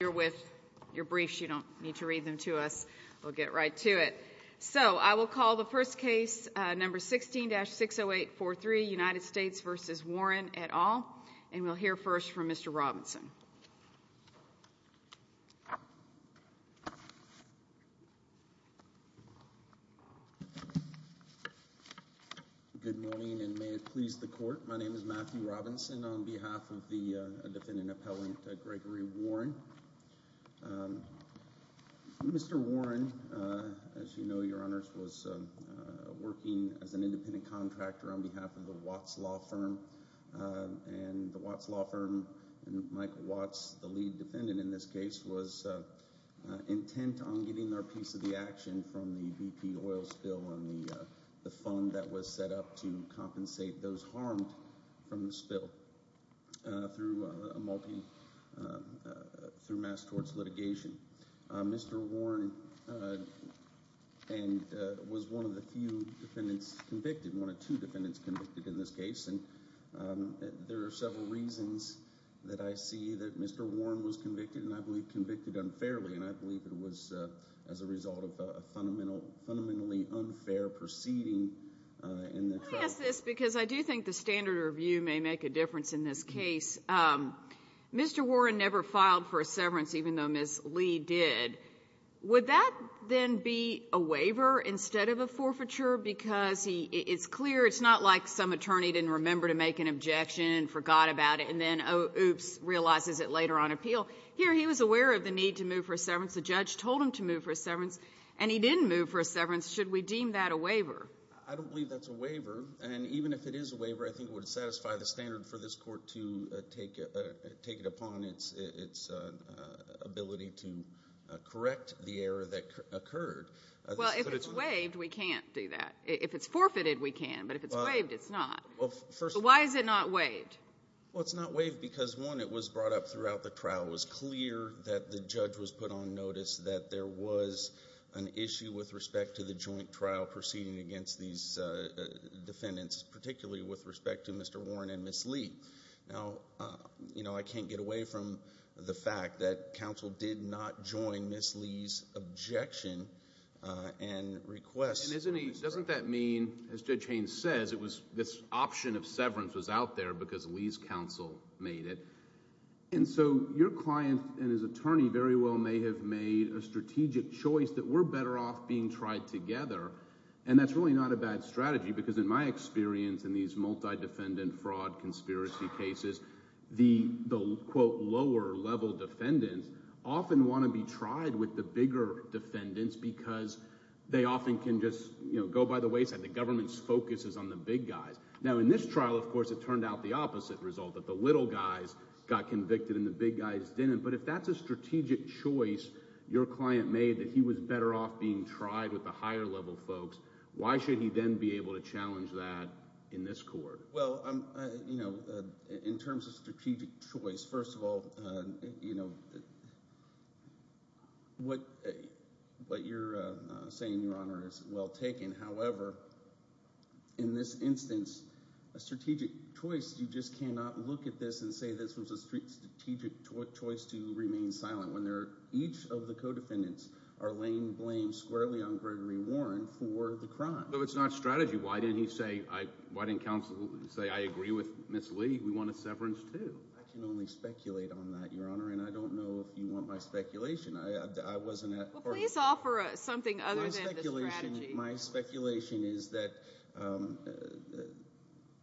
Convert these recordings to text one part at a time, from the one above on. Good morning and may it please the court, my name is Matthew Robinson on behalf of the Mr. Warren, as you know, your honors, was working as an independent contractor on behalf of the Watts Law Firm. And the Watts Law Firm, and Michael Watts, the lead defendant in this case, was intent on getting their piece of the action from the BP oil spill and the fund that was set up to compensate those harmed from the spill. Through mass torts litigation. Mr. Warren was one of the few defendants convicted, one of two defendants convicted in this case. And there are several reasons that I see that Mr. Warren was convicted, and I believe convicted unfairly. And I believe it was as a result of a fundamentally unfair proceeding. Let me ask this, because I do think the standard review may make a difference in this case. Mr. Warren never filed for a severance, even though Ms. Lee did. Would that then be a waiver instead of a forfeiture? Because it's clear, it's not like some attorney didn't remember to make an objection and forgot about it, and then, oops, realizes it later on appeal. Here, he was aware of the need to move for a severance. The judge told him to move for a severance, and he didn't move for a severance. Should we deem that a waiver? I don't believe that's a waiver. And even if it is a waiver, I think it would satisfy the standard for this court to take it upon its ability to correct the error that occurred. Well, if it's waived, we can't do that. If it's forfeited, we can, but if it's waived, it's not. Why is it not waived? Well, it's not waived because, one, it was brought up throughout the trial. It was clear that the judge was put on notice that there was an issue with respect to the joint trial proceeding against these defendants, particularly with respect to Mr. Warren and Ms. Lee. Now, I can't get away from the fact that counsel did not join Ms. Lee's objection and request. And doesn't that mean, as Judge Haynes says, it was this option of severance was out there because Lee's counsel made it. And so your client and his attorney very well may have made a strategic choice that we're better off being tried together, and that's really not a bad strategy because, in my experience in these multi-defendant fraud conspiracy cases, the, quote, lower-level defendants often want to be tried with the bigger defendants because they often can just go by the wayside. The government's focus is on the big guys. Now, in this trial, of course, it turned out the opposite result, that the little guys got convicted and the big guys didn't. But if that's a strategic choice your client made that he was better off being tried with the higher-level folks, why should he then be able to challenge that in this court? Well, in terms of strategic choice, first of all, what you're saying, Your Honor, is well taken. However, in this instance, a strategic choice, you just cannot look at this and say this was a strategic choice to remain silent when each of the co-defendants are laying blame squarely on Gregory Warren for the crime. No, it's not strategy. Why didn't he say, why didn't counsel say, I agree with Ms. Lee? We want a severance too. I can only speculate on that, Your Honor, and I don't know if you want my speculation. I wasn't at court. Well, please offer us something other than the strategy. My speculation is that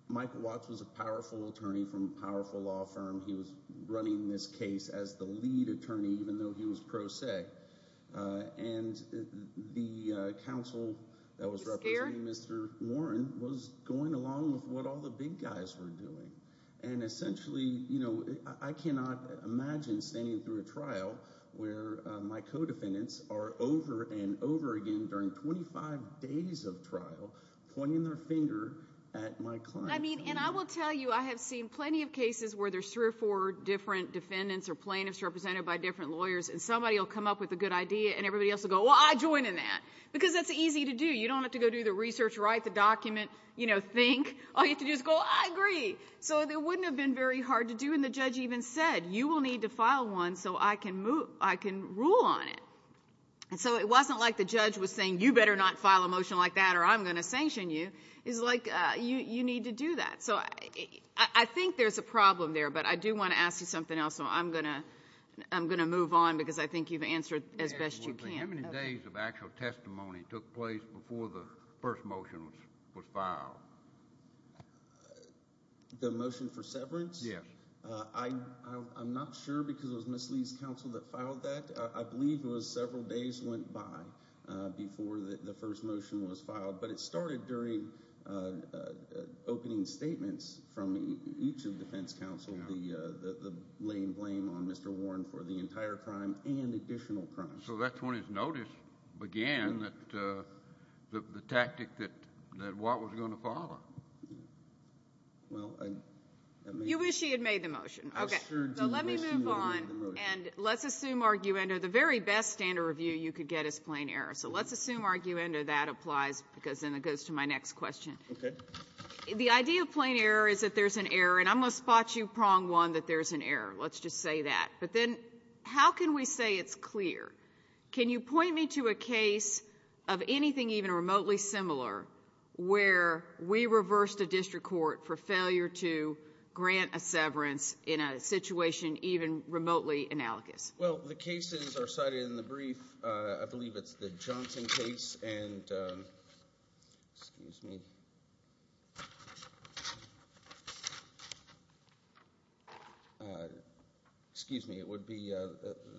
Mike Watts was a powerful attorney from a powerful law firm. He was running this case as the lead attorney even though he was pro se. And the counsel that was representing Mr. Warren was going along with what all the big guys were doing. And essentially, I cannot imagine standing through a trial where my co-defendants are over and over again during 25 days of trial pointing their finger at my client. And I will tell you I have seen plenty of cases where there's three or four different defendants or plaintiffs represented by different lawyers and somebody will come up with a good idea and everybody else will go, well, I joined in that because that's easy to do. You don't have to go do the research, write the document, think. All you have to do is go, I agree. So it wouldn't have been very hard to do. And the judge even said, you will need to file one so I can rule on it. And so it wasn't like the judge was saying, you better not file a motion like that or I'm going to sanction you. It was like, you need to do that. So I think there's a problem there, but I do want to ask you something else, so I'm going to move on because I think you've answered as best you can. How many days of actual testimony took place before the first motion was filed? The motion for severance? Yes. I'm not sure because it was Ms. Lee's counsel that filed that. I believe it was several days went by before the first motion was filed, but it started during opening statements from each of the defense counsel, the laying blame on Mr. Warren for the entire crime and additional crimes. And so that's when his notice began that the tactic that Warren was going to follow. Well, I mean you wish he had made the motion. Okay. So let me move on and let's assume arguendo. The very best standard review you could get is plain error, so let's assume arguendo that applies because then it goes to my next question. Okay. The idea of plain error is that there's an error, and I'm going to spot you prong one that there's an error. Let's just say that. But then how can we say it's clear? Can you point me to a case of anything even remotely similar where we reversed a district court for failure to grant a severance in a situation even remotely analogous? Well, the cases are cited in the brief. I believe it's the Johnson case and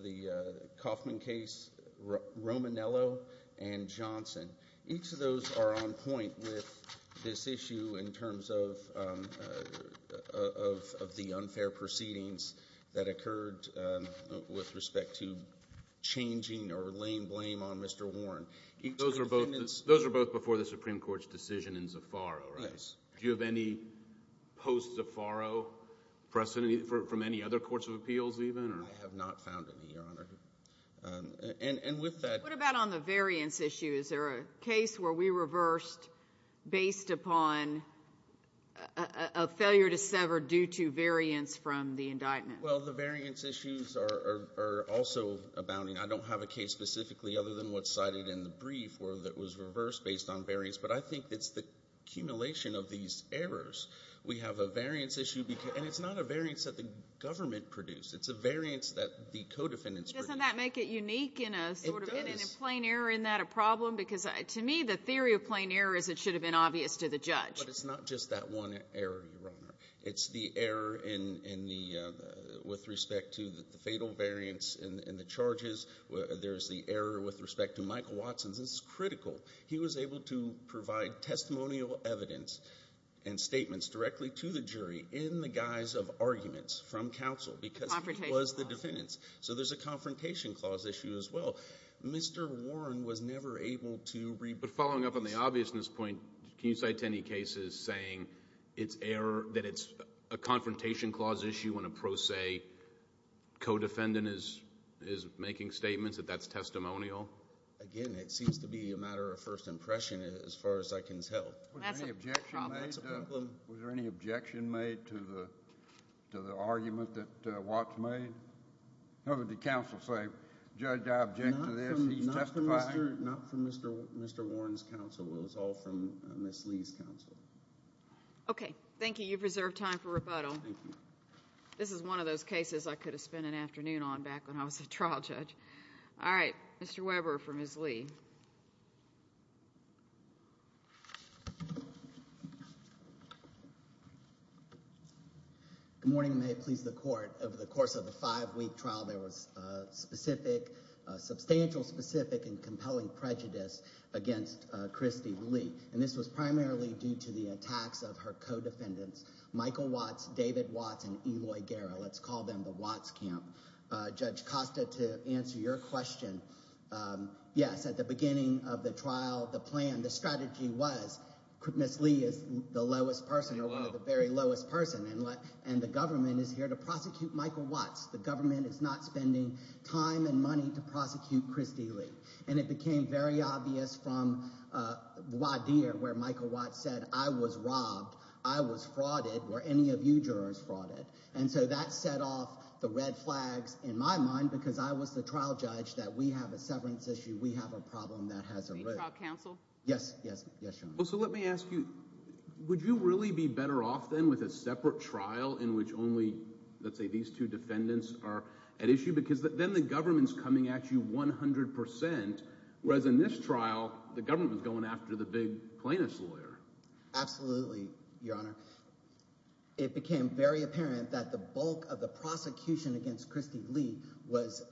the Kaufman case, Romanello and Johnson. Each of those are on point with this issue in terms of the unfair proceedings that occurred with respect to changing or laying blame on Mr. Warren. Those are both before the Supreme Court's decision in Zaffaro, right? Yes. Do you have any post-Zaffaro precedent from any other courts of appeals even? I have not found any, Your Honor. And with that— What about on the variance issue? Is there a case where we reversed based upon a failure to sever due to variance from the indictment? Well, the variance issues are also abounding. I don't have a case specifically other than what's cited in the brief where it was reversed based on variance. But I think it's the accumulation of these errors. We have a variance issue, and it's not a variance that the government produced. It's a variance that the co-defendants produced. Doesn't that make it unique in a sort of— It does. —in a plain error in that a problem? Because to me, the theory of plain error is it should have been obvious to the judge. But it's not just that one error, Your Honor. It's the error with respect to the fatal variance in the charges. There's the error with respect to Michael Watson's. This is critical. He was able to provide testimonial evidence and statements directly to the jury in the guise of arguments from counsel because he was the defendant. The confrontation clause. So there's a confrontation clause issue as well. Mr. Warren was never able to— But following up on the obviousness point, can you cite any cases saying that it's a confrontation clause issue when a pro se co-defendant is making statements, that that's testimonial? Again, it seems to be a matter of first impression as far as I can tell. That's a problem. That's a problem. Was there any objection made to the argument that Watson made? Or did counsel say, Judge, I object to this. He's testifying. Not from Mr. Warren's counsel. It was all from Ms. Lee's counsel. Okay. Thank you. You've reserved time for rebuttal. Thank you. This is one of those cases I could have spent an afternoon on back when I was a trial judge. All right. Mr. Weber for Ms. Lee. Good morning. May it please the Court. Over the course of the five-week trial, there was specific, substantial specific and compelling prejudice against Christy Lee. And this was primarily due to the attacks of her co-defendants, Michael Watts, David Watts, and Eloy Guerra. Let's call them the Watts camp. Judge Costa, to answer your question, yes, at the beginning of the trial, the plan, the strategy was Ms. Lee is the lowest person or one of the very lowest person. And the government is here to prosecute Michael Watts. The government is not spending time and money to prosecute Christy Lee. And it became very obvious from voir dire where Michael Watts said I was robbed, I was frauded, or any of you jurors frauded. And so that set off the red flags in my mind because I was the trial judge that we have a severance issue. We have a problem that has arisen. Yes. Yes. Yes, Your Honor. Well, so let me ask you, would you really be better off then with a separate trial in which only, let's say, these two defendants are at issue? Because then the government is coming at you 100%, whereas in this trial the government was going after the big plaintiff's lawyer. Absolutely, Your Honor. It became very apparent that the bulk of the prosecution against Christy Lee was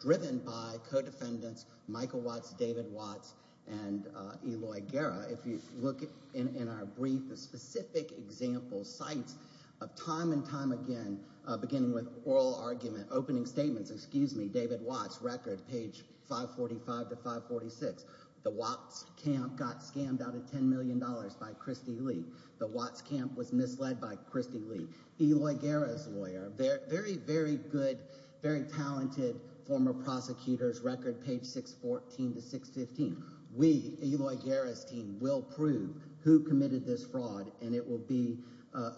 driven by co-defendants Michael Watts, David Watts, and Eloy Guerra. If you look in our brief, the specific examples, sites of time and time again, beginning with oral argument, opening statements, excuse me, David Watts, record, page 545 to 546. The Watts camp got scammed out of $10 million by Christy Lee. The Watts camp was misled by Christy Lee. Eloy Guerra's lawyer, very, very good, very talented former prosecutor's record, page 614 to 615. We, Eloy Guerra's team, will prove who committed this fraud, and it will be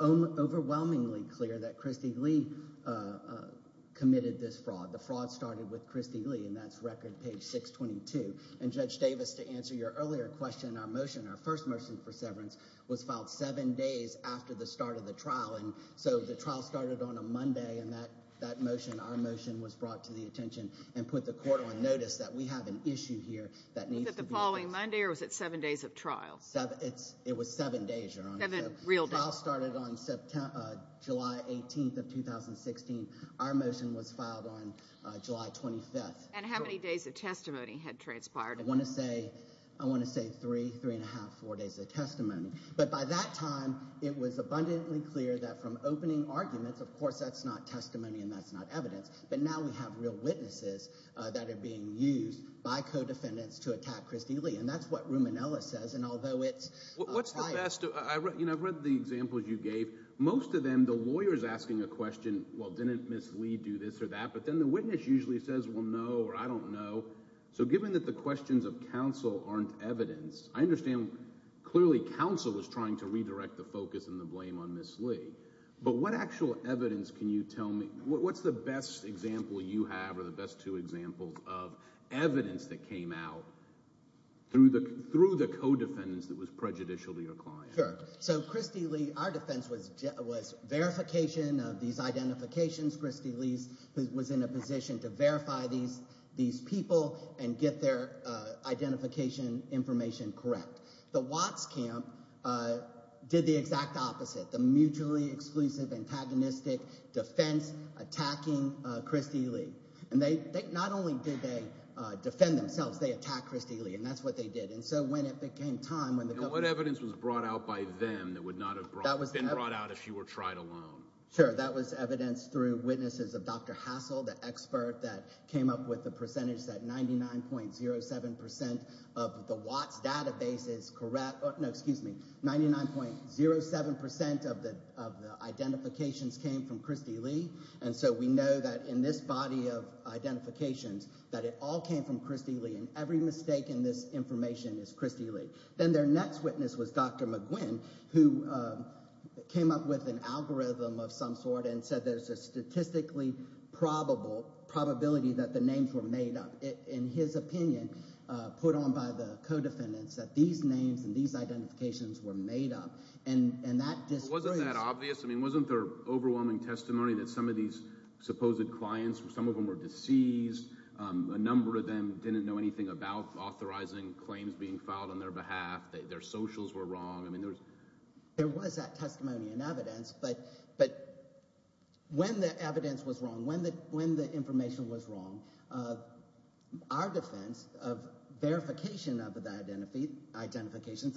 overwhelmingly clear that Christy Lee committed this fraud. The fraud started with Christy Lee, and that's record, page 622. And Judge Davis, to answer your earlier question, our motion, our first motion for severance was filed seven days after the start of the trial. And so the trial started on a Monday, and that motion, our motion, was brought to the attention and put the court on notice that we have an issue here that needs to be addressed. Was it the following Monday, or was it seven days of trial? It was seven days, Your Honor. Seven real days. The trial started on July 18th of 2016. Our motion was filed on July 25th. And how many days of testimony had transpired? But by that time, it was abundantly clear that from opening arguments, of course that's not testimony and that's not evidence, but now we have real witnesses that are being used by co-defendants to attack Christy Lee. And that's what Ruminella says. And although it's – What's the best – I've read the examples you gave. Most of them, the lawyer is asking a question, well, didn't Ms. Lee do this or that? But then the witness usually says, well, no, or I don't know. So given that the questions of counsel aren't evidence, I understand clearly counsel is trying to redirect the focus and the blame on Ms. Lee. But what actual evidence can you tell me – what's the best example you have or the best two examples of evidence that came out through the co-defendants that was prejudicial to your client? Sure. So Christy Lee – our defense was verification of these identifications. Christy Lee was in a position to verify these people and get their identification information correct. The Watts camp did the exact opposite, the mutually exclusive, antagonistic defense attacking Christy Lee. And they – not only did they defend themselves. They attacked Christy Lee, and that's what they did. And so when it became time – And what evidence was brought out by them that would not have been brought out if you were tried alone? Sure. That was evidence through witnesses of Dr. Hassel, the expert that came up with the percentage that 99.07 percent of the Watts database is correct – no, excuse me. 99.07 percent of the identifications came from Christy Lee. And so we know that in this body of identifications that it all came from Christy Lee. And every mistake in this information is Christy Lee. Then their next witness was Dr. McGuinn, who came up with an algorithm of some sort and said there's a statistically probable – probability that the names were made up. In his opinion, put on by the co-defendants, that these names and these identifications were made up. Wasn't that obvious? Wasn't there overwhelming testimony that some of these supposed clients, some of them were deceased, a number of them didn't know anything about authorizing claims being filed on their behalf, their socials were wrong? There was that testimony and evidence. But when the evidence was wrong, when the information was wrong, our defense of verification of the identifications,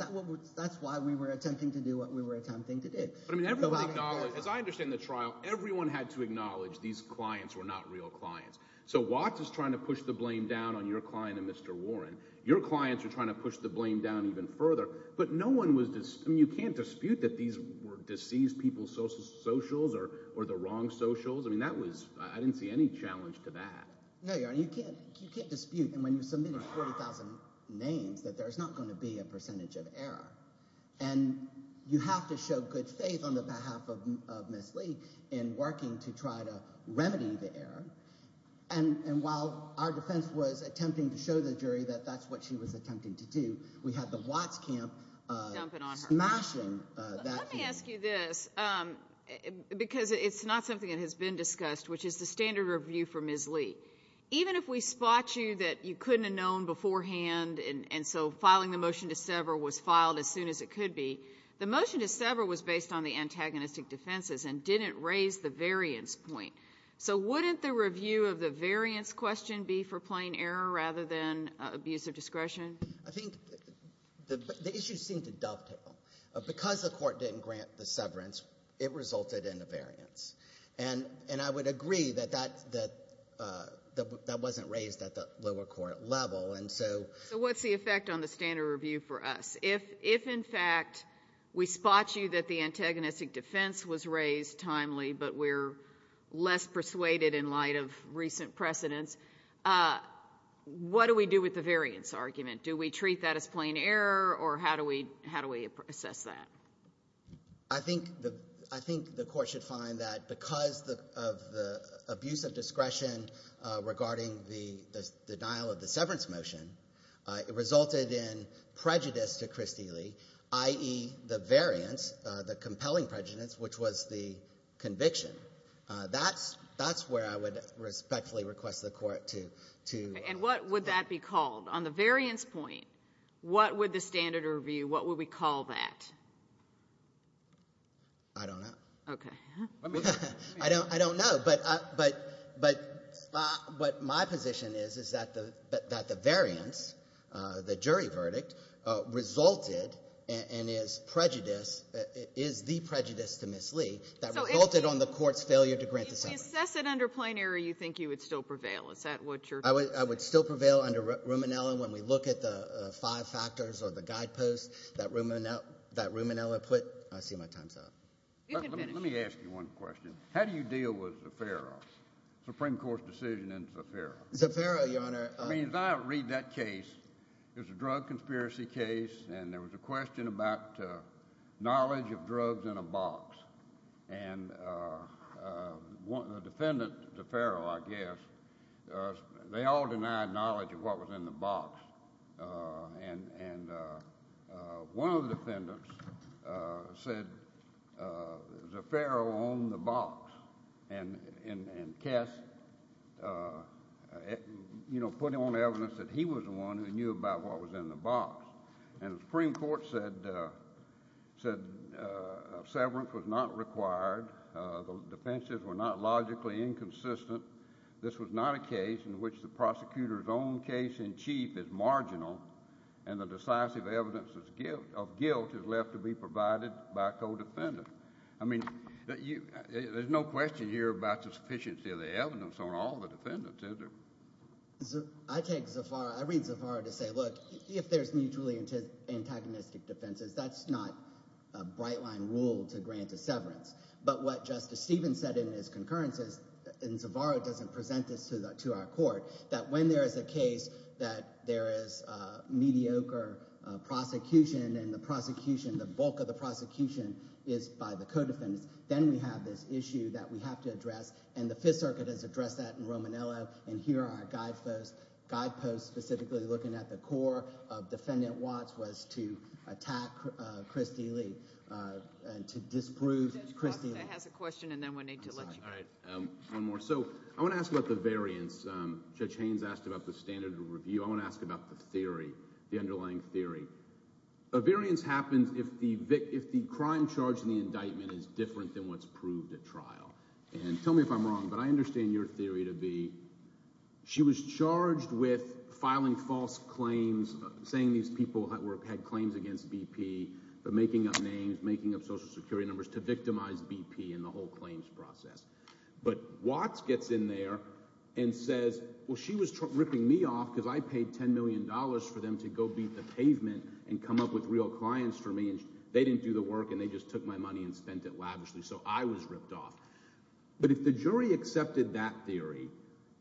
that's why we were attempting to do what we were attempting to do. But everyone acknowledged – as I understand the trial, everyone had to acknowledge these clients were not real clients. So Watts is trying to push the blame down on your client and Mr. Warren. Your clients are trying to push the blame down even further. But no one was – I mean you can't dispute that these were deceased people's socials or the wrong socials. I mean that was – I didn't see any challenge to that. No, Your Honor. You can't dispute. And when you submitted 40,000 names, that there's not going to be a percentage of error. And you have to show good faith on the behalf of Ms. Lee in working to try to remedy the error. And while our defense was attempting to show the jury that that's what she was attempting to do, we had the Watts camp smashing that. Let me ask you this because it's not something that has been discussed, which is the standard review for Ms. Lee. Even if we spot you that you couldn't have known beforehand, and so filing the motion to sever was filed as soon as it could be, the motion to sever was based on the antagonistic defenses and didn't raise the variance point. So wouldn't the review of the variance question be for plain error rather than abuse of discretion? I think the issue seemed to dovetail. Because the court didn't grant the severance, it resulted in a variance. And I would agree that that wasn't raised at the lower court level. So what's the effect on the standard review for us? If, in fact, we spot you that the antagonistic defense was raised timely but we're less persuaded in light of recent precedents, what do we do with the variance argument? Do we treat that as plain error or how do we assess that? I think the court should find that because of the abuse of discretion regarding the denial of the severance motion, it resulted in prejudice to Kristi Lee, i.e., the variance, the compelling prejudice, which was the conviction. That's where I would respectfully request the court to go. And what would that be called? On the variance point, what would the standard review, what would we call that? I don't know. Okay. I don't know. But what my position is is that the variance, the jury verdict, resulted and is prejudice, is the prejudice to Ms. Lee that resulted on the court's failure to grant the severance. So if you assess it under plain error, you think you would still prevail. Is that what you're saying? I would still prevail under Ruminella when we look at the five factors or the guideposts that Ruminella put. I see my time's up. You can finish. Let me ask you one question. How do you deal with Zaffaro, Supreme Court's decision in Zaffaro? Zaffaro, Your Honor. I mean, as I read that case, it was a drug conspiracy case, and there was a question about knowledge of drugs in a box. And the defendant, Zaffaro, I guess, they all denied knowledge of what was in the box. And one of the defendants said Zaffaro owned the box. And Kess, you know, put on evidence that he was the one who knew about what was in the box. And the Supreme Court said severance was not required. The defenses were not logically inconsistent. This was not a case in which the prosecutor's own case in chief is marginal and the decisive evidence of guilt is left to be provided by a co-defendant. I mean, there's no question here about the sufficiency of the evidence on all the defendants, is there? I take Zaffaro. I read Zaffaro to say, look, if there's mutually antagonistic defenses, that's not a bright-line rule to grant a severance. But what Justice Stevens said in his concurrence is, and Zaffaro doesn't present this to our court, that when there is a case that there is mediocre prosecution and the prosecution, the bulk of the prosecution is by the co-defendants, then we have this issue that we have to address. And the Fifth Circuit has addressed that in Romanello, and here are our guideposts. I'm specifically looking at the core of Defendant Watts was to attack Christy Lee and to disprove Christy Lee. Judge Costa has a question, and then we'll need to let you go. All right. One more. So I want to ask about the variance. Judge Haynes asked about the standard of review. I want to ask about the theory, the underlying theory. A variance happens if the crime charged in the indictment is different than what's proved at trial. And tell me if I'm wrong, but I understand your theory to be she was charged with filing false claims, saying these people had claims against BP, but making up names, making up Social Security numbers to victimize BP in the whole claims process. But Watts gets in there and says, well, she was ripping me off because I paid $10 million for them to go beat the pavement and come up with real clients for me, and they didn't do the work, and they just took my money and spent it lavishly. So I was ripped off. But if the jury accepted that theory,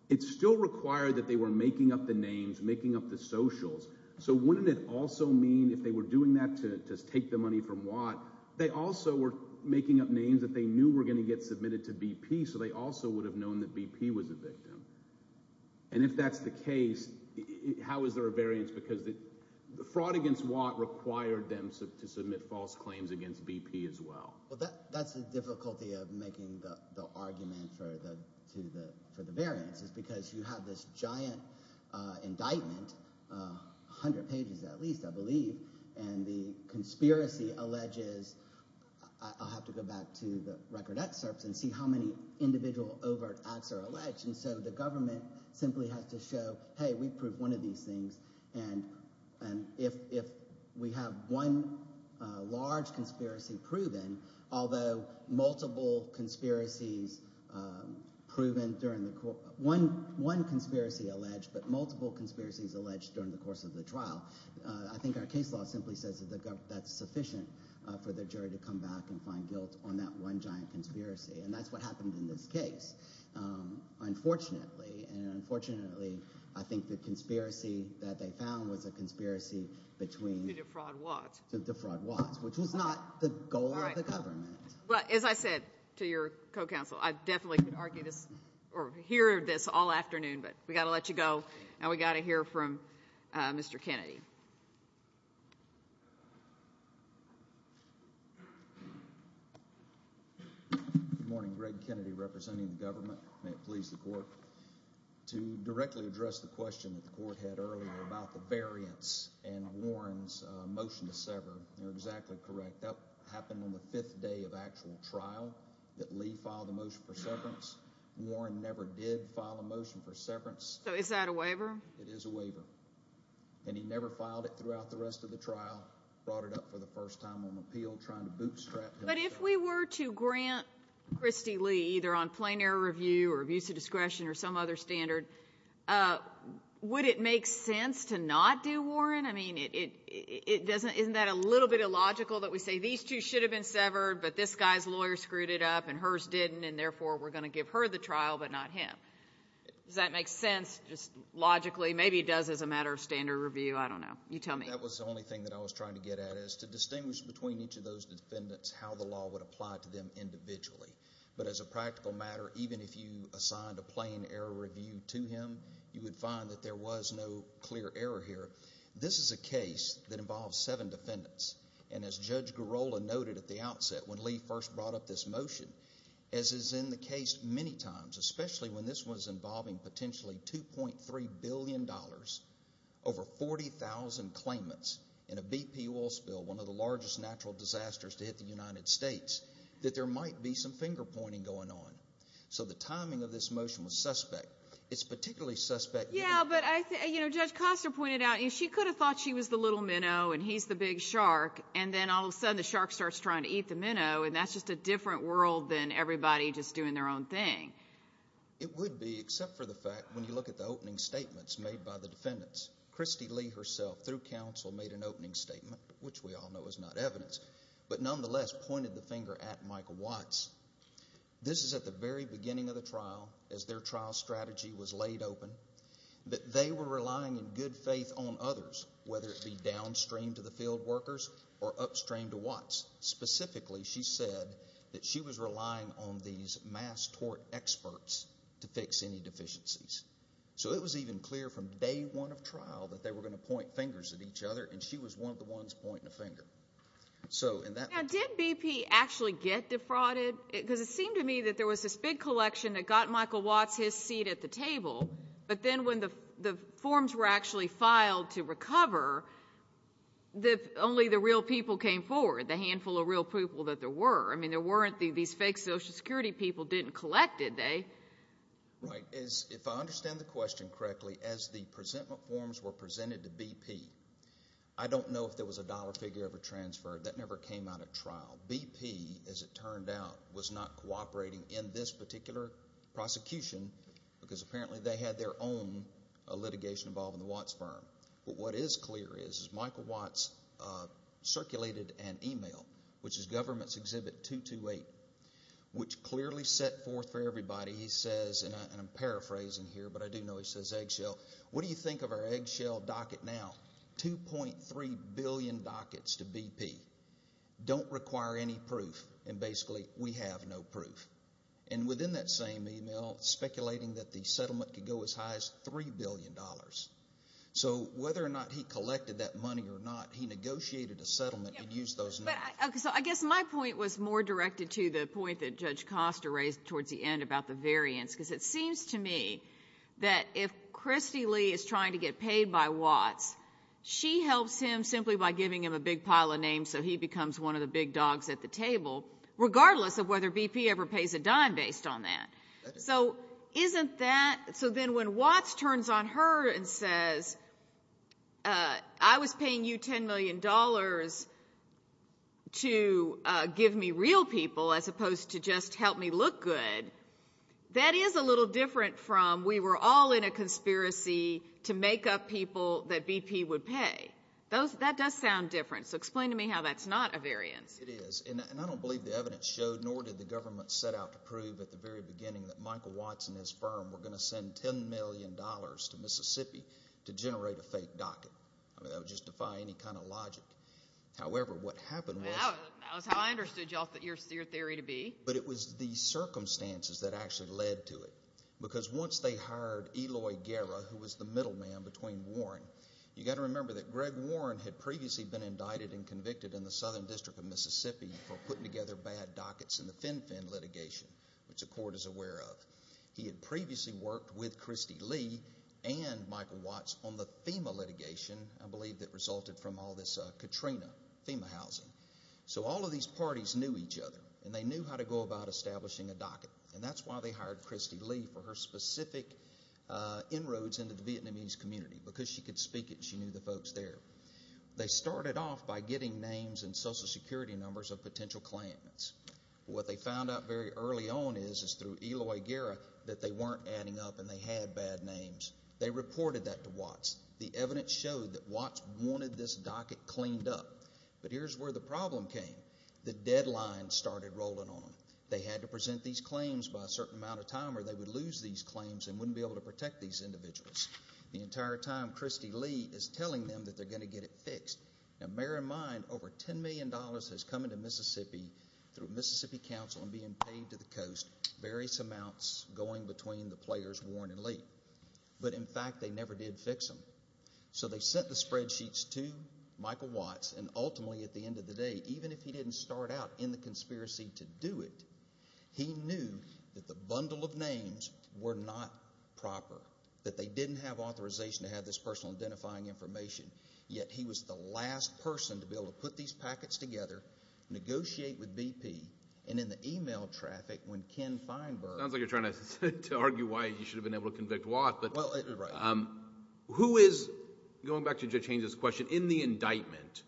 it still required that they were making up the names, making up the socials. So wouldn't it also mean if they were doing that to take the money from Watt, they also were making up names that they knew were going to get submitted to BP, so they also would have known that BP was a victim? And if that's the case, how is there a variance? Because the fraud against Watt required them to submit false claims against BP as well. Well, that's the difficulty of making the argument for the variance is because you have this giant indictment, 100 pages at least, I believe, and the conspiracy alleges – I'll have to go back to the record excerpts and see how many individual overt acts are alleged. And so the government simply has to show, hey, we proved one of these things, and if we have one large conspiracy proven, although multiple conspiracies proven during the – one conspiracy alleged, but multiple conspiracies alleged during the course of the trial, I think our case law simply says that that's sufficient for the jury to come back and find guilt on that one giant conspiracy, and that's what happened in this case, unfortunately. And unfortunately, I think the conspiracy that they found was a conspiracy between – To defraud Watts. To defraud Watts, which was not the goal of the government. Well, as I said to your co-counsel, I definitely could argue this or hear this all afternoon, but we've got to let you go, and we've got to hear from Mr. Kennedy. Good morning. Greg Kennedy representing the government. May it please the court. To directly address the question that the court had earlier about the variance in Warren's motion to sever, you're exactly correct. That happened on the fifth day of actual trial that Lee filed a motion for severance. Warren never did file a motion for severance. So is that a waiver? It is a waiver. And he never filed it throughout the rest of the trial, brought it up for the first time on appeal, trying to bootstrap him. But if we were to grant Christy Lee, either on plain error review or abuse of discretion or some other standard, would it make sense to not do Warren? I mean, isn't that a little bit illogical that we say these two should have been severed, but this guy's lawyer screwed it up and hers didn't, and therefore we're going to give her the trial but not him? Does that make sense just logically? Maybe it does as a matter of standard review. I don't know. You tell me. That was the only thing that I was trying to get at is to distinguish between each of those defendants how the law would apply to them individually. But as a practical matter, even if you assigned a plain error review to him, you would find that there was no clear error here. This is a case that involves seven defendants, and as Judge Girola noted at the outset when Lee first brought up this motion, as is in the case many times, especially when this was involving potentially $2.3 billion, over 40,000 claimants in a BP oil spill, one of the largest natural disasters to hit the United States, that there might be some finger-pointing going on. So the timing of this motion was suspect. It's particularly suspect. Yeah, but, you know, Judge Costner pointed out she could have thought she was the little minnow and he's the big shark, and then all of a sudden the shark starts trying to eat the minnow, and that's just a different world than everybody just doing their own thing. It would be, except for the fact when you look at the opening statements made by the defendants. Christy Lee herself, through counsel, made an opening statement, which we all know is not evidence, but nonetheless pointed the finger at Michael Watts. This is at the very beginning of the trial, as their trial strategy was laid open, that they were relying in good faith on others, whether it be downstream to the field workers or upstream to Watts. Specifically, she said that she was relying on these mass tort experts to fix any deficiencies. So it was even clear from day one of trial that they were going to point fingers at each other, and she was one of the ones pointing a finger. Now, did BP actually get defrauded? Because it seemed to me that there was this big collection that got Michael Watts his seat at the table, but then when the forms were actually filed to recover, only the real people came forward, the handful of real people that there were. I mean, there weren't these fake Social Security people didn't collect it, they. Right. If I understand the question correctly, as the presentment forms were presented to BP, I don't know if there was a dollar figure ever transferred. That never came out at trial. BP, as it turned out, was not cooperating in this particular prosecution because apparently they had their own litigation involved in the Watts firm. But what is clear is Michael Watts circulated an email, which is government's exhibit 228, which clearly set forth for everybody, he says, and I'm paraphrasing here, but I do know he says eggshell, what do you think of our eggshell docket now? 2.3 billion dockets to BP. Don't require any proof, and basically we have no proof. And within that same email, speculating that the settlement could go as high as $3 billion. So whether or not he collected that money or not, he negotiated a settlement and used those numbers. So I guess my point was more directed to the point that Judge Costa raised towards the end about the variance because it seems to me that if Christy Lee is trying to get paid by Watts, she helps him simply by giving him a big pile of names so he becomes one of the big dogs at the table, regardless of whether BP ever pays a dime based on that. So isn't that, so then when Watts turns on her and says, I was paying you $10 million to give me real people as opposed to just help me look good, that is a little different from we were all in a conspiracy to make up people that BP would pay. That does sound different, so explain to me how that's not a variance. It is, and I don't believe the evidence showed nor did the government set out to prove at the very beginning that Michael Watts and his firm were going to send $10 million to Mississippi to generate a fake docket. I mean that would just defy any kind of logic. However, what happened was… That was how I understood your theory to be. But it was the circumstances that actually led to it because once they hired Eloy Guerra, who was the middleman between Warren, you've got to remember that Greg Warren had previously been indicted and convicted in the Southern District of Mississippi for putting together bad dockets in the FinFIN litigation, which the court is aware of. He had previously worked with Christy Lee and Michael Watts on the FEMA litigation, I believe that resulted from all this Katrina FEMA housing. So all of these parties knew each other, and they knew how to go about establishing a docket, and that's why they hired Christy Lee for her specific inroads into the Vietnamese community because she could speak it and she knew the folks there. They started off by getting names and Social Security numbers of potential claimants. What they found out very early on is through Eloy Guerra that they weren't adding up and they had bad names. They reported that to Watts. The evidence showed that Watts wanted this docket cleaned up. But here's where the problem came. The deadline started rolling on. They had to present these claims by a certain amount of time or they would lose these claims and wouldn't be able to protect these individuals. The entire time Christy Lee is telling them that they're going to get it fixed. Now bear in mind over $10 million has come into Mississippi through Mississippi Council and being paid to the coast, various amounts going between the players Warren and Lee. But in fact they never did fix them. So they sent the spreadsheets to Michael Watts, and ultimately at the end of the day, even if he didn't start out in the conspiracy to do it, he knew that the bundle of names were not proper, that they didn't have authorization to have this personal identifying information, yet he was the last person to be able to put these packets together, negotiate with BP, and in the email traffic when Ken Feinberg... Sounds like you're trying to argue why you should have been able to convict Watts. Well, right. Who is, going back to Judge Haynes' question, in the indictment,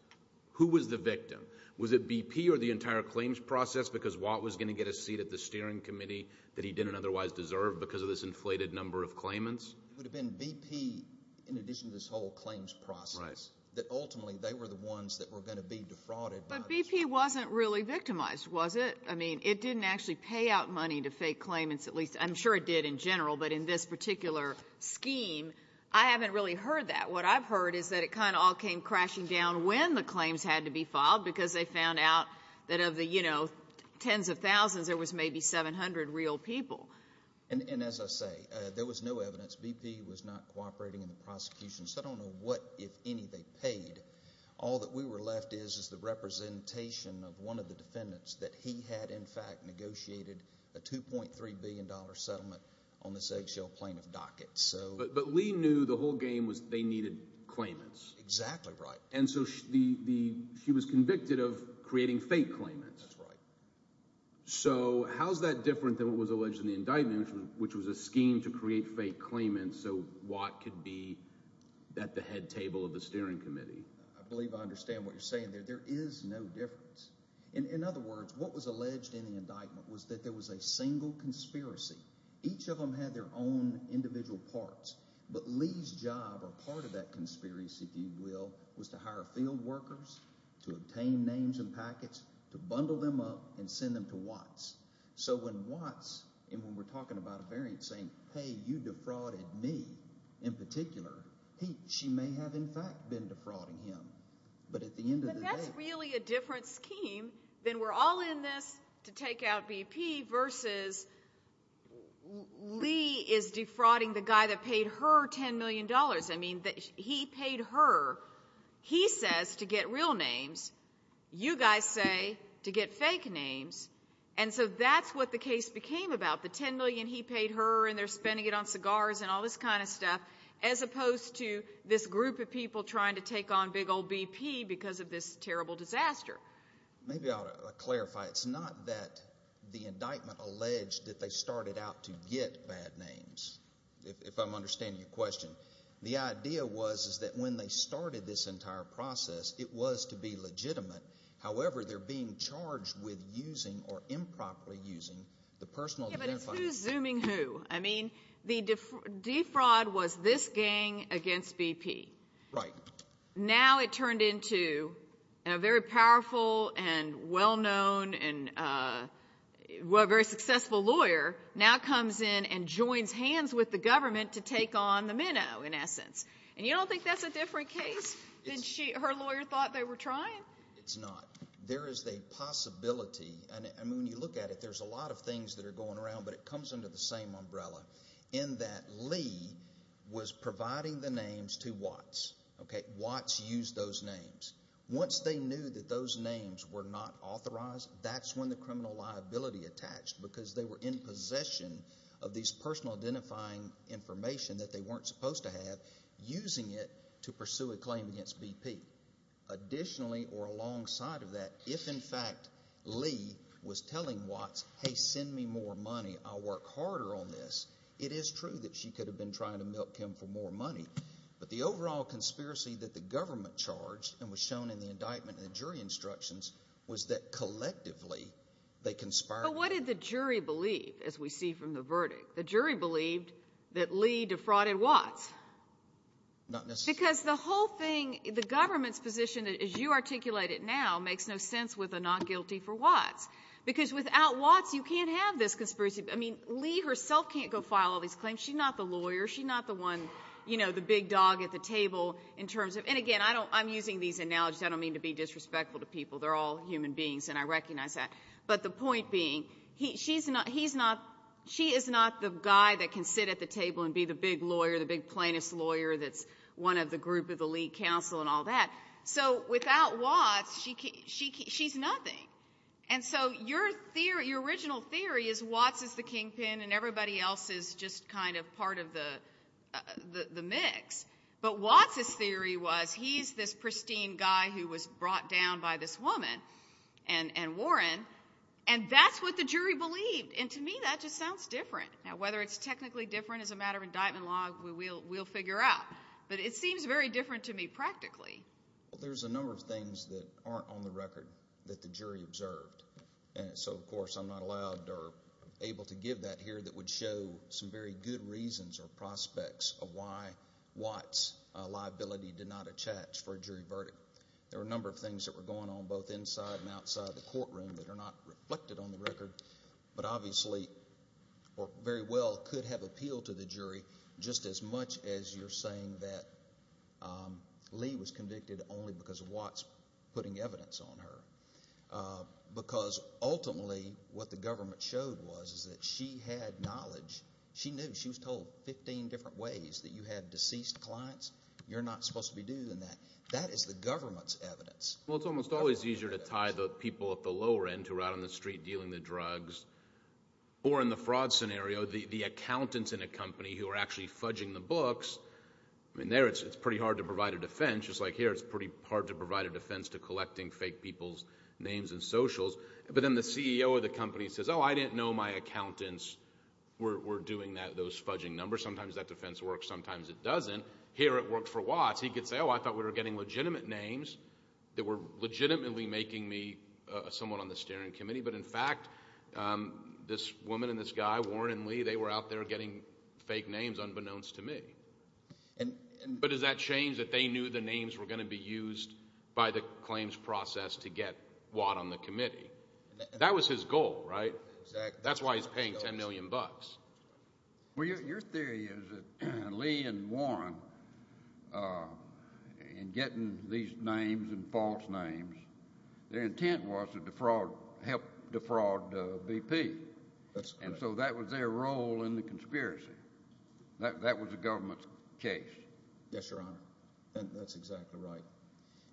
who was the victim? Was it BP or the entire claims process because Watts was going to get a seat at the steering committee that he didn't otherwise deserve because of this inflated number of claimants? It would have been BP in addition to this whole claims process. Right. That ultimately they were the ones that were going to be defrauded. But BP wasn't really victimized, was it? I mean, it didn't actually pay out money to fake claimants, at least I'm sure it did in general, but in this particular scheme I haven't really heard that. What I've heard is that it kind of all came crashing down when the claims had to be filed because they found out that of the tens of thousands there was maybe 700 real people. And as I say, there was no evidence. BP was not cooperating in the prosecution, so I don't know what, if any, they paid. All that we were left is is the representation of one of the defendants that he had, in fact, negotiated a $2.3 billion settlement on this eggshell plaintiff docket. But Lee knew the whole game was they needed claimants. Exactly right. And so she was convicted of creating fake claimants. That's right. So how's that different than what was alleged in the indictment, which was a scheme to create fake claimants so Watt could be at the head table of the steering committee? I believe I understand what you're saying there. There is no difference. In other words, what was alleged in the indictment was that there was a single conspiracy. Each of them had their own individual parts. But Lee's job, or part of that conspiracy, if you will, was to hire field workers, to obtain names and packets, to bundle them up and send them to Watts. So when Watts, and when we're talking about a variant saying, hey, you defrauded me in particular, she may have, in fact, been defrauding him. But at the end of the day – But that's really a different scheme than we're all in this to take out BP versus Lee is defrauding the guy that paid her $10 million. I mean, he paid her. He says to get real names. You guys say to get fake names. And so that's what the case became about, the $10 million he paid her, and they're spending it on cigars and all this kind of stuff, as opposed to this group of people trying to take on big old BP because of this terrible disaster. Maybe I ought to clarify. It's not that the indictment alleged that they started out to get bad names, if I'm understanding your question. The idea was that when they started this entire process, it was to be legitimate. However, they're being charged with using or improperly using the personal identifiers. Yeah, but it's who's zooming who. I mean, the defraud was this gang against BP. Right. Now it turned into a very powerful and well-known and very successful lawyer now comes in and joins hands with the government to take on the minnow, in essence. And you don't think that's a different case than her lawyer thought they were trying? It's not. There is a possibility. I mean, when you look at it, there's a lot of things that are going around, but it comes under the same umbrella in that Lee was providing the names to Watts. Watts used those names. Once they knew that those names were not authorized, that's when the criminal liability attached because they were in possession of these personal identifying information that they weren't supposed to have, using it to pursue a claim against BP. Additionally, or alongside of that, if, in fact, Lee was telling Watts, hey, send me more money, I'll work harder on this, it is true that she could have been trying to milk him for more money. But the overall conspiracy that the government charged and was shown in the indictment and the jury instructions was that collectively they conspired. But what did the jury believe, as we see from the verdict? The jury believed that Lee defrauded Watts. Not necessarily. Because the whole thing, the government's position, as you articulate it now, makes no sense with a not guilty for Watts because without Watts you can't have this conspiracy. I mean, Lee herself can't go file all these claims. She's not the lawyer. She's not the one, you know, the big dog at the table in terms of – and, again, I'm using these analogies. I don't mean to be disrespectful to people. They're all human beings, and I recognize that. But the point being, she is not the guy that can sit at the table and be the big lawyer, the big plaintiff's lawyer that's one of the group of the lead counsel and all that. So without Watts, she's nothing. And so your original theory is Watts is the kingpin and everybody else is just kind of part of the mix. But Watts's theory was he's this pristine guy who was brought down by this woman and Warren, and that's what the jury believed. And to me that just sounds different. Now, whether it's technically different as a matter of indictment law, we'll figure out. But it seems very different to me practically. Well, there's a number of things that aren't on the record that the jury observed. And so, of course, I'm not allowed or able to give that here that would show some very good reasons or prospects of why Watts's liability did not attach for a jury verdict. There were a number of things that were going on both inside and outside the courtroom that are not reflected on the record, but obviously very well could have appealed to the jury just as much as you're saying that Lee was convicted only because of Watts putting evidence on her. Because ultimately what the government showed was that she had knowledge. She knew. She was told 15 different ways that you had deceased clients. You're not supposed to be doing that. That is the government's evidence. Well, it's almost always easier to tie the people at the lower end who are out on the street dealing the drugs or in the fraud scenario, the accountants in a company who are actually fudging the books. I mean, there it's pretty hard to provide a defense. Just like here, it's pretty hard to provide a defense to collecting fake people's names and socials. But then the CEO of the company says, oh, I didn't know my accountants were doing those fudging numbers. Sometimes that defense works. Sometimes it doesn't. Here it worked for Watts. He could say, oh, I thought we were getting legitimate names that were legitimately making me someone on the steering committee. But, in fact, this woman and this guy, Warren and Lee, they were out there getting fake names unbeknownst to me. But does that change that they knew the names were going to be used by the claims process to get Watt on the committee? That was his goal, right? That's why he's paying $10 million. Well, your theory is that Lee and Warren, in getting these names and false names, their intent was to help defraud BP. And so that was their role in the conspiracy. That was the government's case. Yes, Your Honor. That's exactly right.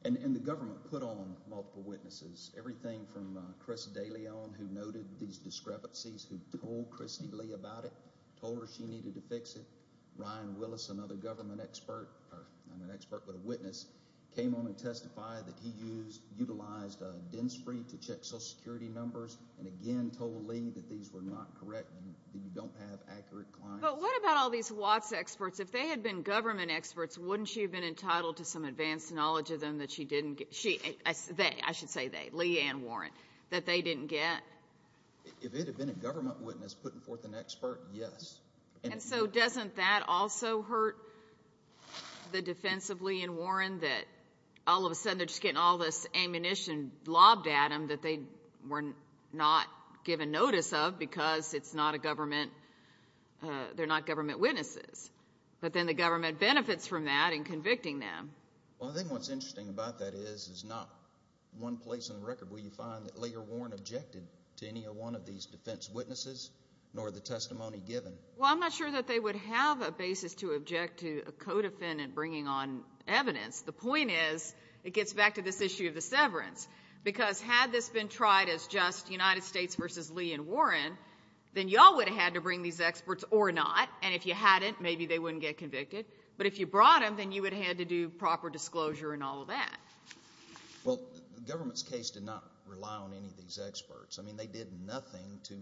And the government put on multiple witnesses. Everything from Chris DeLeon, who noted these discrepancies, who told Christy Lee about it, told her she needed to fix it. Ryan Willis, another government expert, not an expert but a witness, came on and testified that he utilized Densfree to check Social Security numbers and again told Lee that these were not correct and that you don't have accurate claims. But what about all these Watts experts? If they had been government experts, wouldn't she have been entitled to some advanced knowledge of them that she didn't get? They, I should say they, Lee and Warren, that they didn't get? If it had been a government witness putting forth an expert, yes. And so doesn't that also hurt the defense of Lee and Warren that all of a sudden they're just getting all this ammunition lobbed at them that they were not given notice of because it's not a government, they're not government witnesses? But then the government benefits from that in convicting them. Well, I think what's interesting about that is it's not one place on the record where you find that Lee or Warren objected to any one of these defense witnesses nor the testimony given. Well, I'm not sure that they would have a basis to object to a co-defendant bringing on evidence. The point is it gets back to this issue of the severance because had this been tried as just United States v. Lee and Warren, then you all would have had to bring these experts or not, and if you hadn't, maybe they wouldn't get convicted. But if you brought them, then you would have had to do proper disclosure and all of that. Well, the government's case did not rely on any of these experts. I mean, they did nothing to,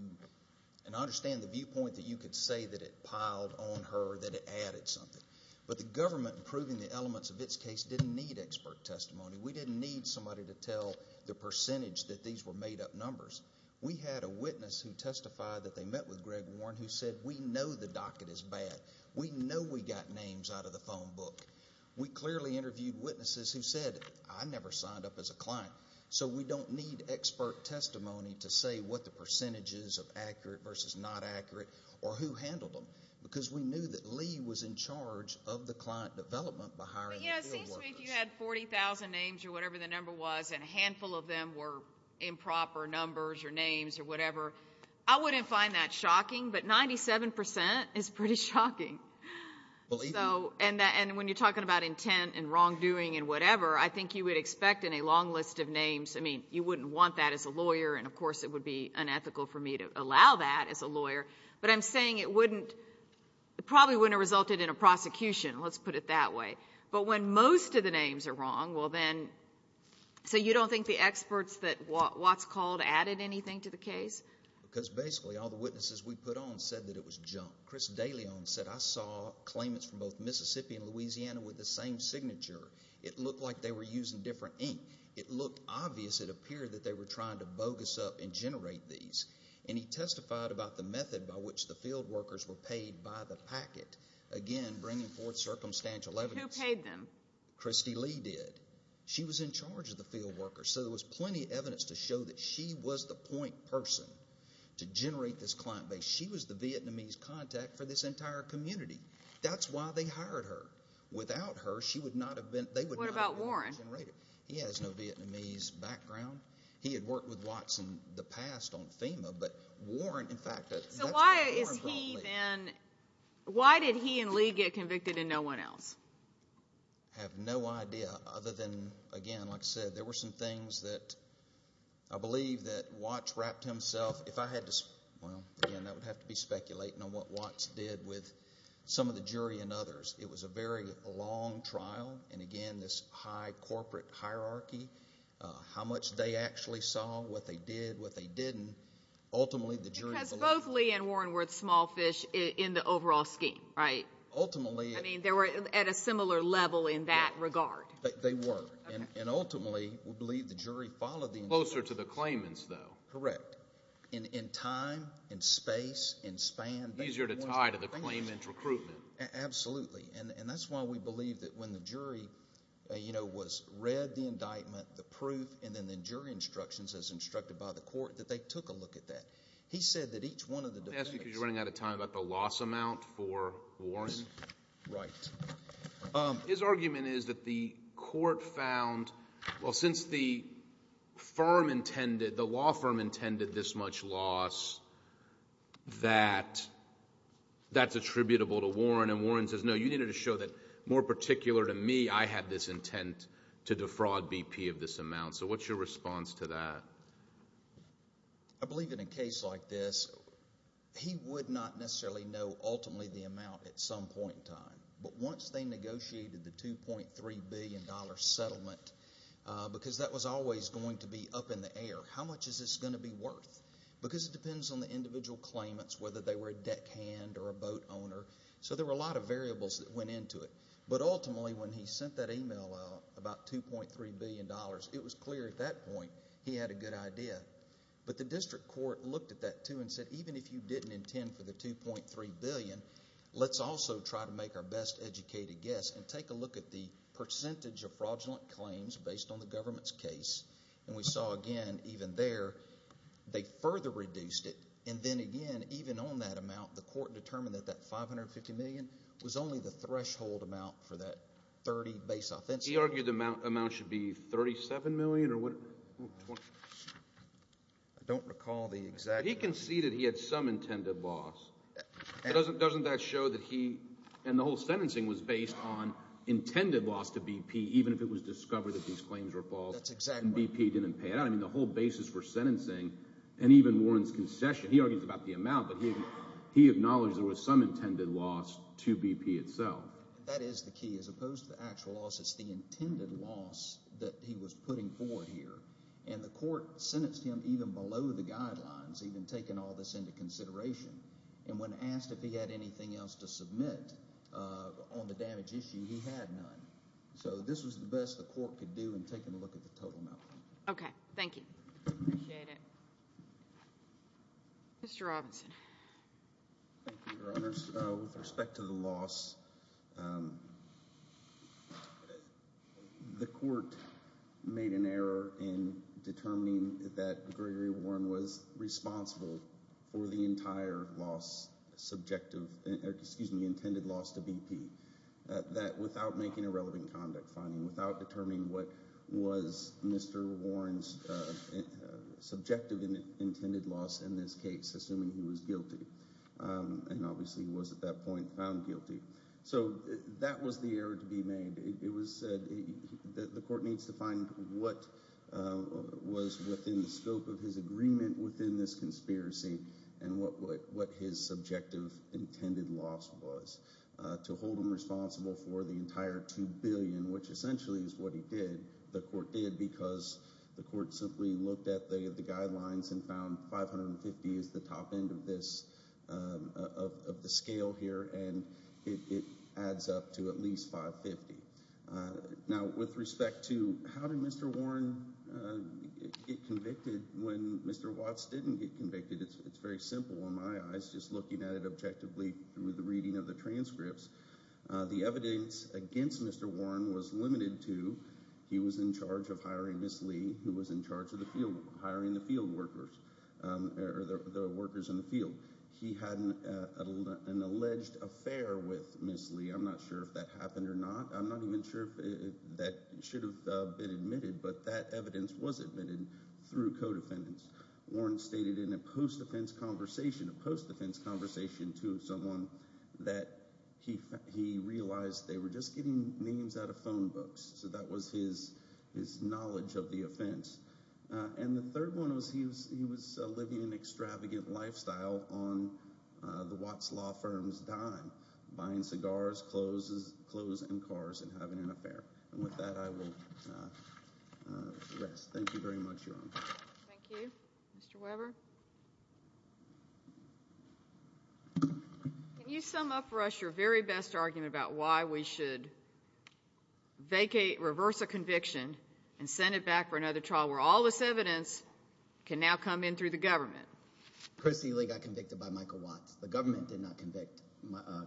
and I understand the viewpoint that you could say that it piled on her, that it added something. But the government proving the elements of its case didn't need expert testimony. We didn't need somebody to tell the percentage that these were made-up numbers. We had a witness who testified that they met with Greg Warren who said, we know the docket is bad, we know we got names out of the phone book. We clearly interviewed witnesses who said, I never signed up as a client. So we don't need expert testimony to say what the percentage is of accurate versus not accurate or who handled them because we knew that Lee was in charge of the client development by hiring the field workers. It seems to me if you had 40,000 names or whatever the number was and a handful of them were improper numbers or names or whatever, I wouldn't find that shocking, but 97% is pretty shocking. Believe me. And when you're talking about intent and wrongdoing and whatever, I think you would expect in a long list of names, I mean, you wouldn't want that as a lawyer, and of course it would be unethical for me to allow that as a lawyer, but I'm saying it probably wouldn't have resulted in a prosecution, let's put it that way. But when most of the names are wrong, well then, so you don't think the experts that Watts called added anything to the case? Because basically all the witnesses we put on said that it was junk. Chris DeLeon said, I saw claimants from both Mississippi and Louisiana with the same signature. It looked like they were using different ink. It looked obvious. It appeared that they were trying to bogus up and generate these, and he testified about the method by which the field workers were paid by the packet, again bringing forth circumstantial evidence. Who paid them? Christy Lee did. She was in charge of the field workers, so there was plenty of evidence to show that she was the point person to generate this client base. She was the Vietnamese contact for this entire community. That's why they hired her. Without her, they would not have been able to generate it. What about Warren? He has no Vietnamese background. He had worked with Watts in the past on FEMA, but Warren, in fact, that's what Warren brought me. So why did he and Lee get convicted and no one else? I have no idea other than, again, like I said, there were some things that I believe that Watts wrapped himself. Well, again, that would have to be speculating on what Watts did with some of the jury and others. It was a very long trial, and again, this high corporate hierarchy, how much they actually saw, what they did, what they didn't. Ultimately, the jury believed. Because both Lee and Warren were at small fish in the overall scheme, right? Ultimately. I mean, they were at a similar level in that regard. They were. And ultimately, we believe the jury followed the instructions. Closer to the claimants, though. Correct. In time, in space, in span. Easier to tie to the claimant's recruitment. Absolutely. And that's why we believe that when the jury read the indictment, the proof, and then the jury instructions as instructed by the court, that they took a look at that. He said that each one of the defendants— I'm asking because you're running out of time about the loss amount for Warren. Right. His argument is that the court found, well, since the firm intended, the law firm intended this much loss, that that's attributable to Warren. And Warren says, no, you needed to show that more particular to me, I had this intent to defraud BP of this amount. So what's your response to that? I believe in a case like this, he would not necessarily know, ultimately, the amount at some point in time. But once they negotiated the $2.3 billion settlement, because that was always going to be up in the air, how much is this going to be worth? Because it depends on the individual claimants, whether they were a deckhand or a boat owner. So there were a lot of variables that went into it. But ultimately, when he sent that email out, about $2.3 billion, it was clear at that point he had a good idea. But the district court looked at that, too, and said, even if you didn't intend for the $2.3 billion, let's also try to make our best educated guess and take a look at the percentage of fraudulent claims based on the government's case. And we saw again, even there, they further reduced it. And then again, even on that amount, the court determined that that $550 million was only the threshold amount for that 30 base offenses. He argued the amount should be $37 million or what? I don't recall the exact amount. But he conceded he had some intended loss. Doesn't that show that he and the whole sentencing was based on intended loss to BP, even if it was discovered that these claims were false? That's exactly right. And BP didn't pay it out. I mean, the whole basis for sentencing and even Warren's concession, he argues about the amount, but he acknowledged there was some intended loss to BP itself. That is the key. As opposed to the actual loss, it's the intended loss that he was putting forward here. And the court sentenced him even below the guidelines, even taking all this into consideration. And when asked if he had anything else to submit on the damage issue, he had none. So this was the best the court could do in taking a look at the total amount. Okay. Thank you. Appreciate it. Mr. Robinson. Thank you, Your Honors. With respect to the loss, the court made an error in determining that Gregory Warren was responsible for the entire loss, subjective, excuse me, intended loss to BP. That without making a relevant conduct finding, without determining what was Mr. Warren's subjective intended loss in this case, assuming he was guilty, and obviously was at that point found guilty, so that was the error to be made. It was said that the court needs to find what was within the scope of his agreement within this conspiracy and what his subjective intended loss was to hold him responsible for the entire $2 billion, which essentially is what he did, the court did, because the court simply looked at the guidelines and found 550 is the top end of this, of the scale here, and it adds up to at least 550. Now, with respect to how did Mr. Warren get convicted when Mr. Watts didn't get convicted, it's very simple in my eyes, just looking at it objectively through the reading of the transcripts. The evidence against Mr. Warren was limited to he was in charge of hiring Miss Lee, who was in charge of hiring the field workers, or the workers in the field. He had an alleged affair with Miss Lee. I'm not sure if that happened or not. I'm not even sure if that should have been admitted, but that evidence was admitted through co-defendants. Warren stated in a post-offense conversation, a post-offense conversation to someone, that he realized they were just getting names out of phone books, so that was his knowledge of the offense. And the third one was he was living an extravagant lifestyle on the Watts law firm's dime, buying cigars, clothes, and cars, and having an affair. And with that, I will rest. Thank you very much, Your Honor. Thank you. Mr. Weber? Can you sum up for us your very best argument about why we should vacate, reverse a conviction, and send it back for another trial, where all this evidence can now come in through the government? Christy Lee got convicted by Michael Watts. The government did not convict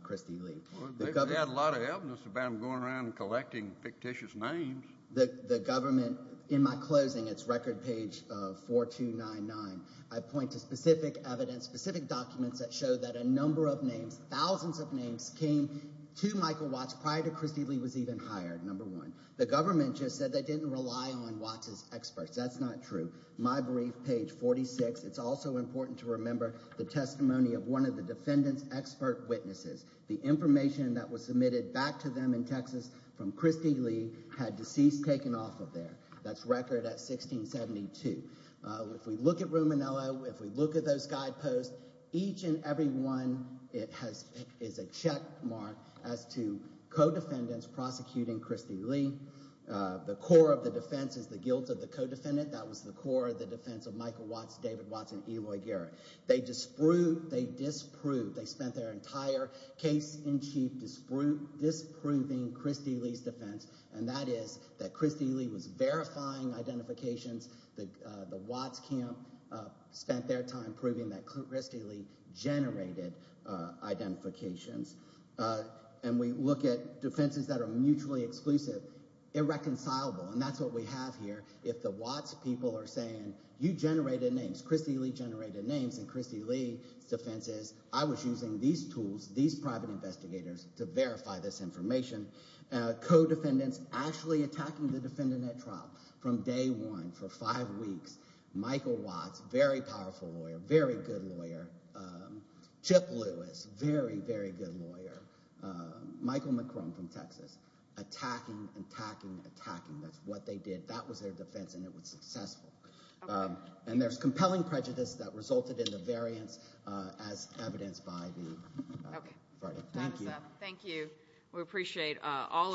Christy Lee. They've had a lot of evidence about him going around and collecting fictitious names. The government, in my closing, it's record page 4299. I point to specific evidence, specific documents, that show that a number of names, thousands of names, came to Michael Watts prior to Christy Lee was even hired, number one. The government just said they didn't rely on Watts' experts. That's not true. My brief, page 46, it's also important to remember the testimony of one of the defendant's expert witnesses. The information that was submitted back to them in Texas from Christy Lee had deceased taken off of there. That's record at 1672. If we look at Ruminello, if we look at those guideposts, each and every one is a checkmark as to co-defendants prosecuting Christy Lee. The core of the defense is the guilt of the co-defendant. That was the core of the defense of Michael Watts, David Watts, and Eloy Garrett. They disproved, they spent their entire case in chief disproving Christy Lee's defense, and that is that Christy Lee was verifying identifications. The Watts camp spent their time proving that Christy Lee generated identifications. And we look at defenses that are mutually exclusive. Irreconcilable, and that's what we have here. If the Watts people are saying you generated names, Christy Lee generated names, and Christy Lee's defense is I was using these tools, these private investigators, to verify this information. Co-defendants actually attacking the defendant at trial from day one for five weeks. Michael Watts, very powerful lawyer, very good lawyer. Chip Lewis, very, very good lawyer. Michael McCrone from Texas. Attacking, attacking, attacking. That's what they did. That was their defense, and it was successful. And there's compelling prejudice that resulted in the variance as evidenced by the verdict. Thank you. Thank you. We appreciate all of you.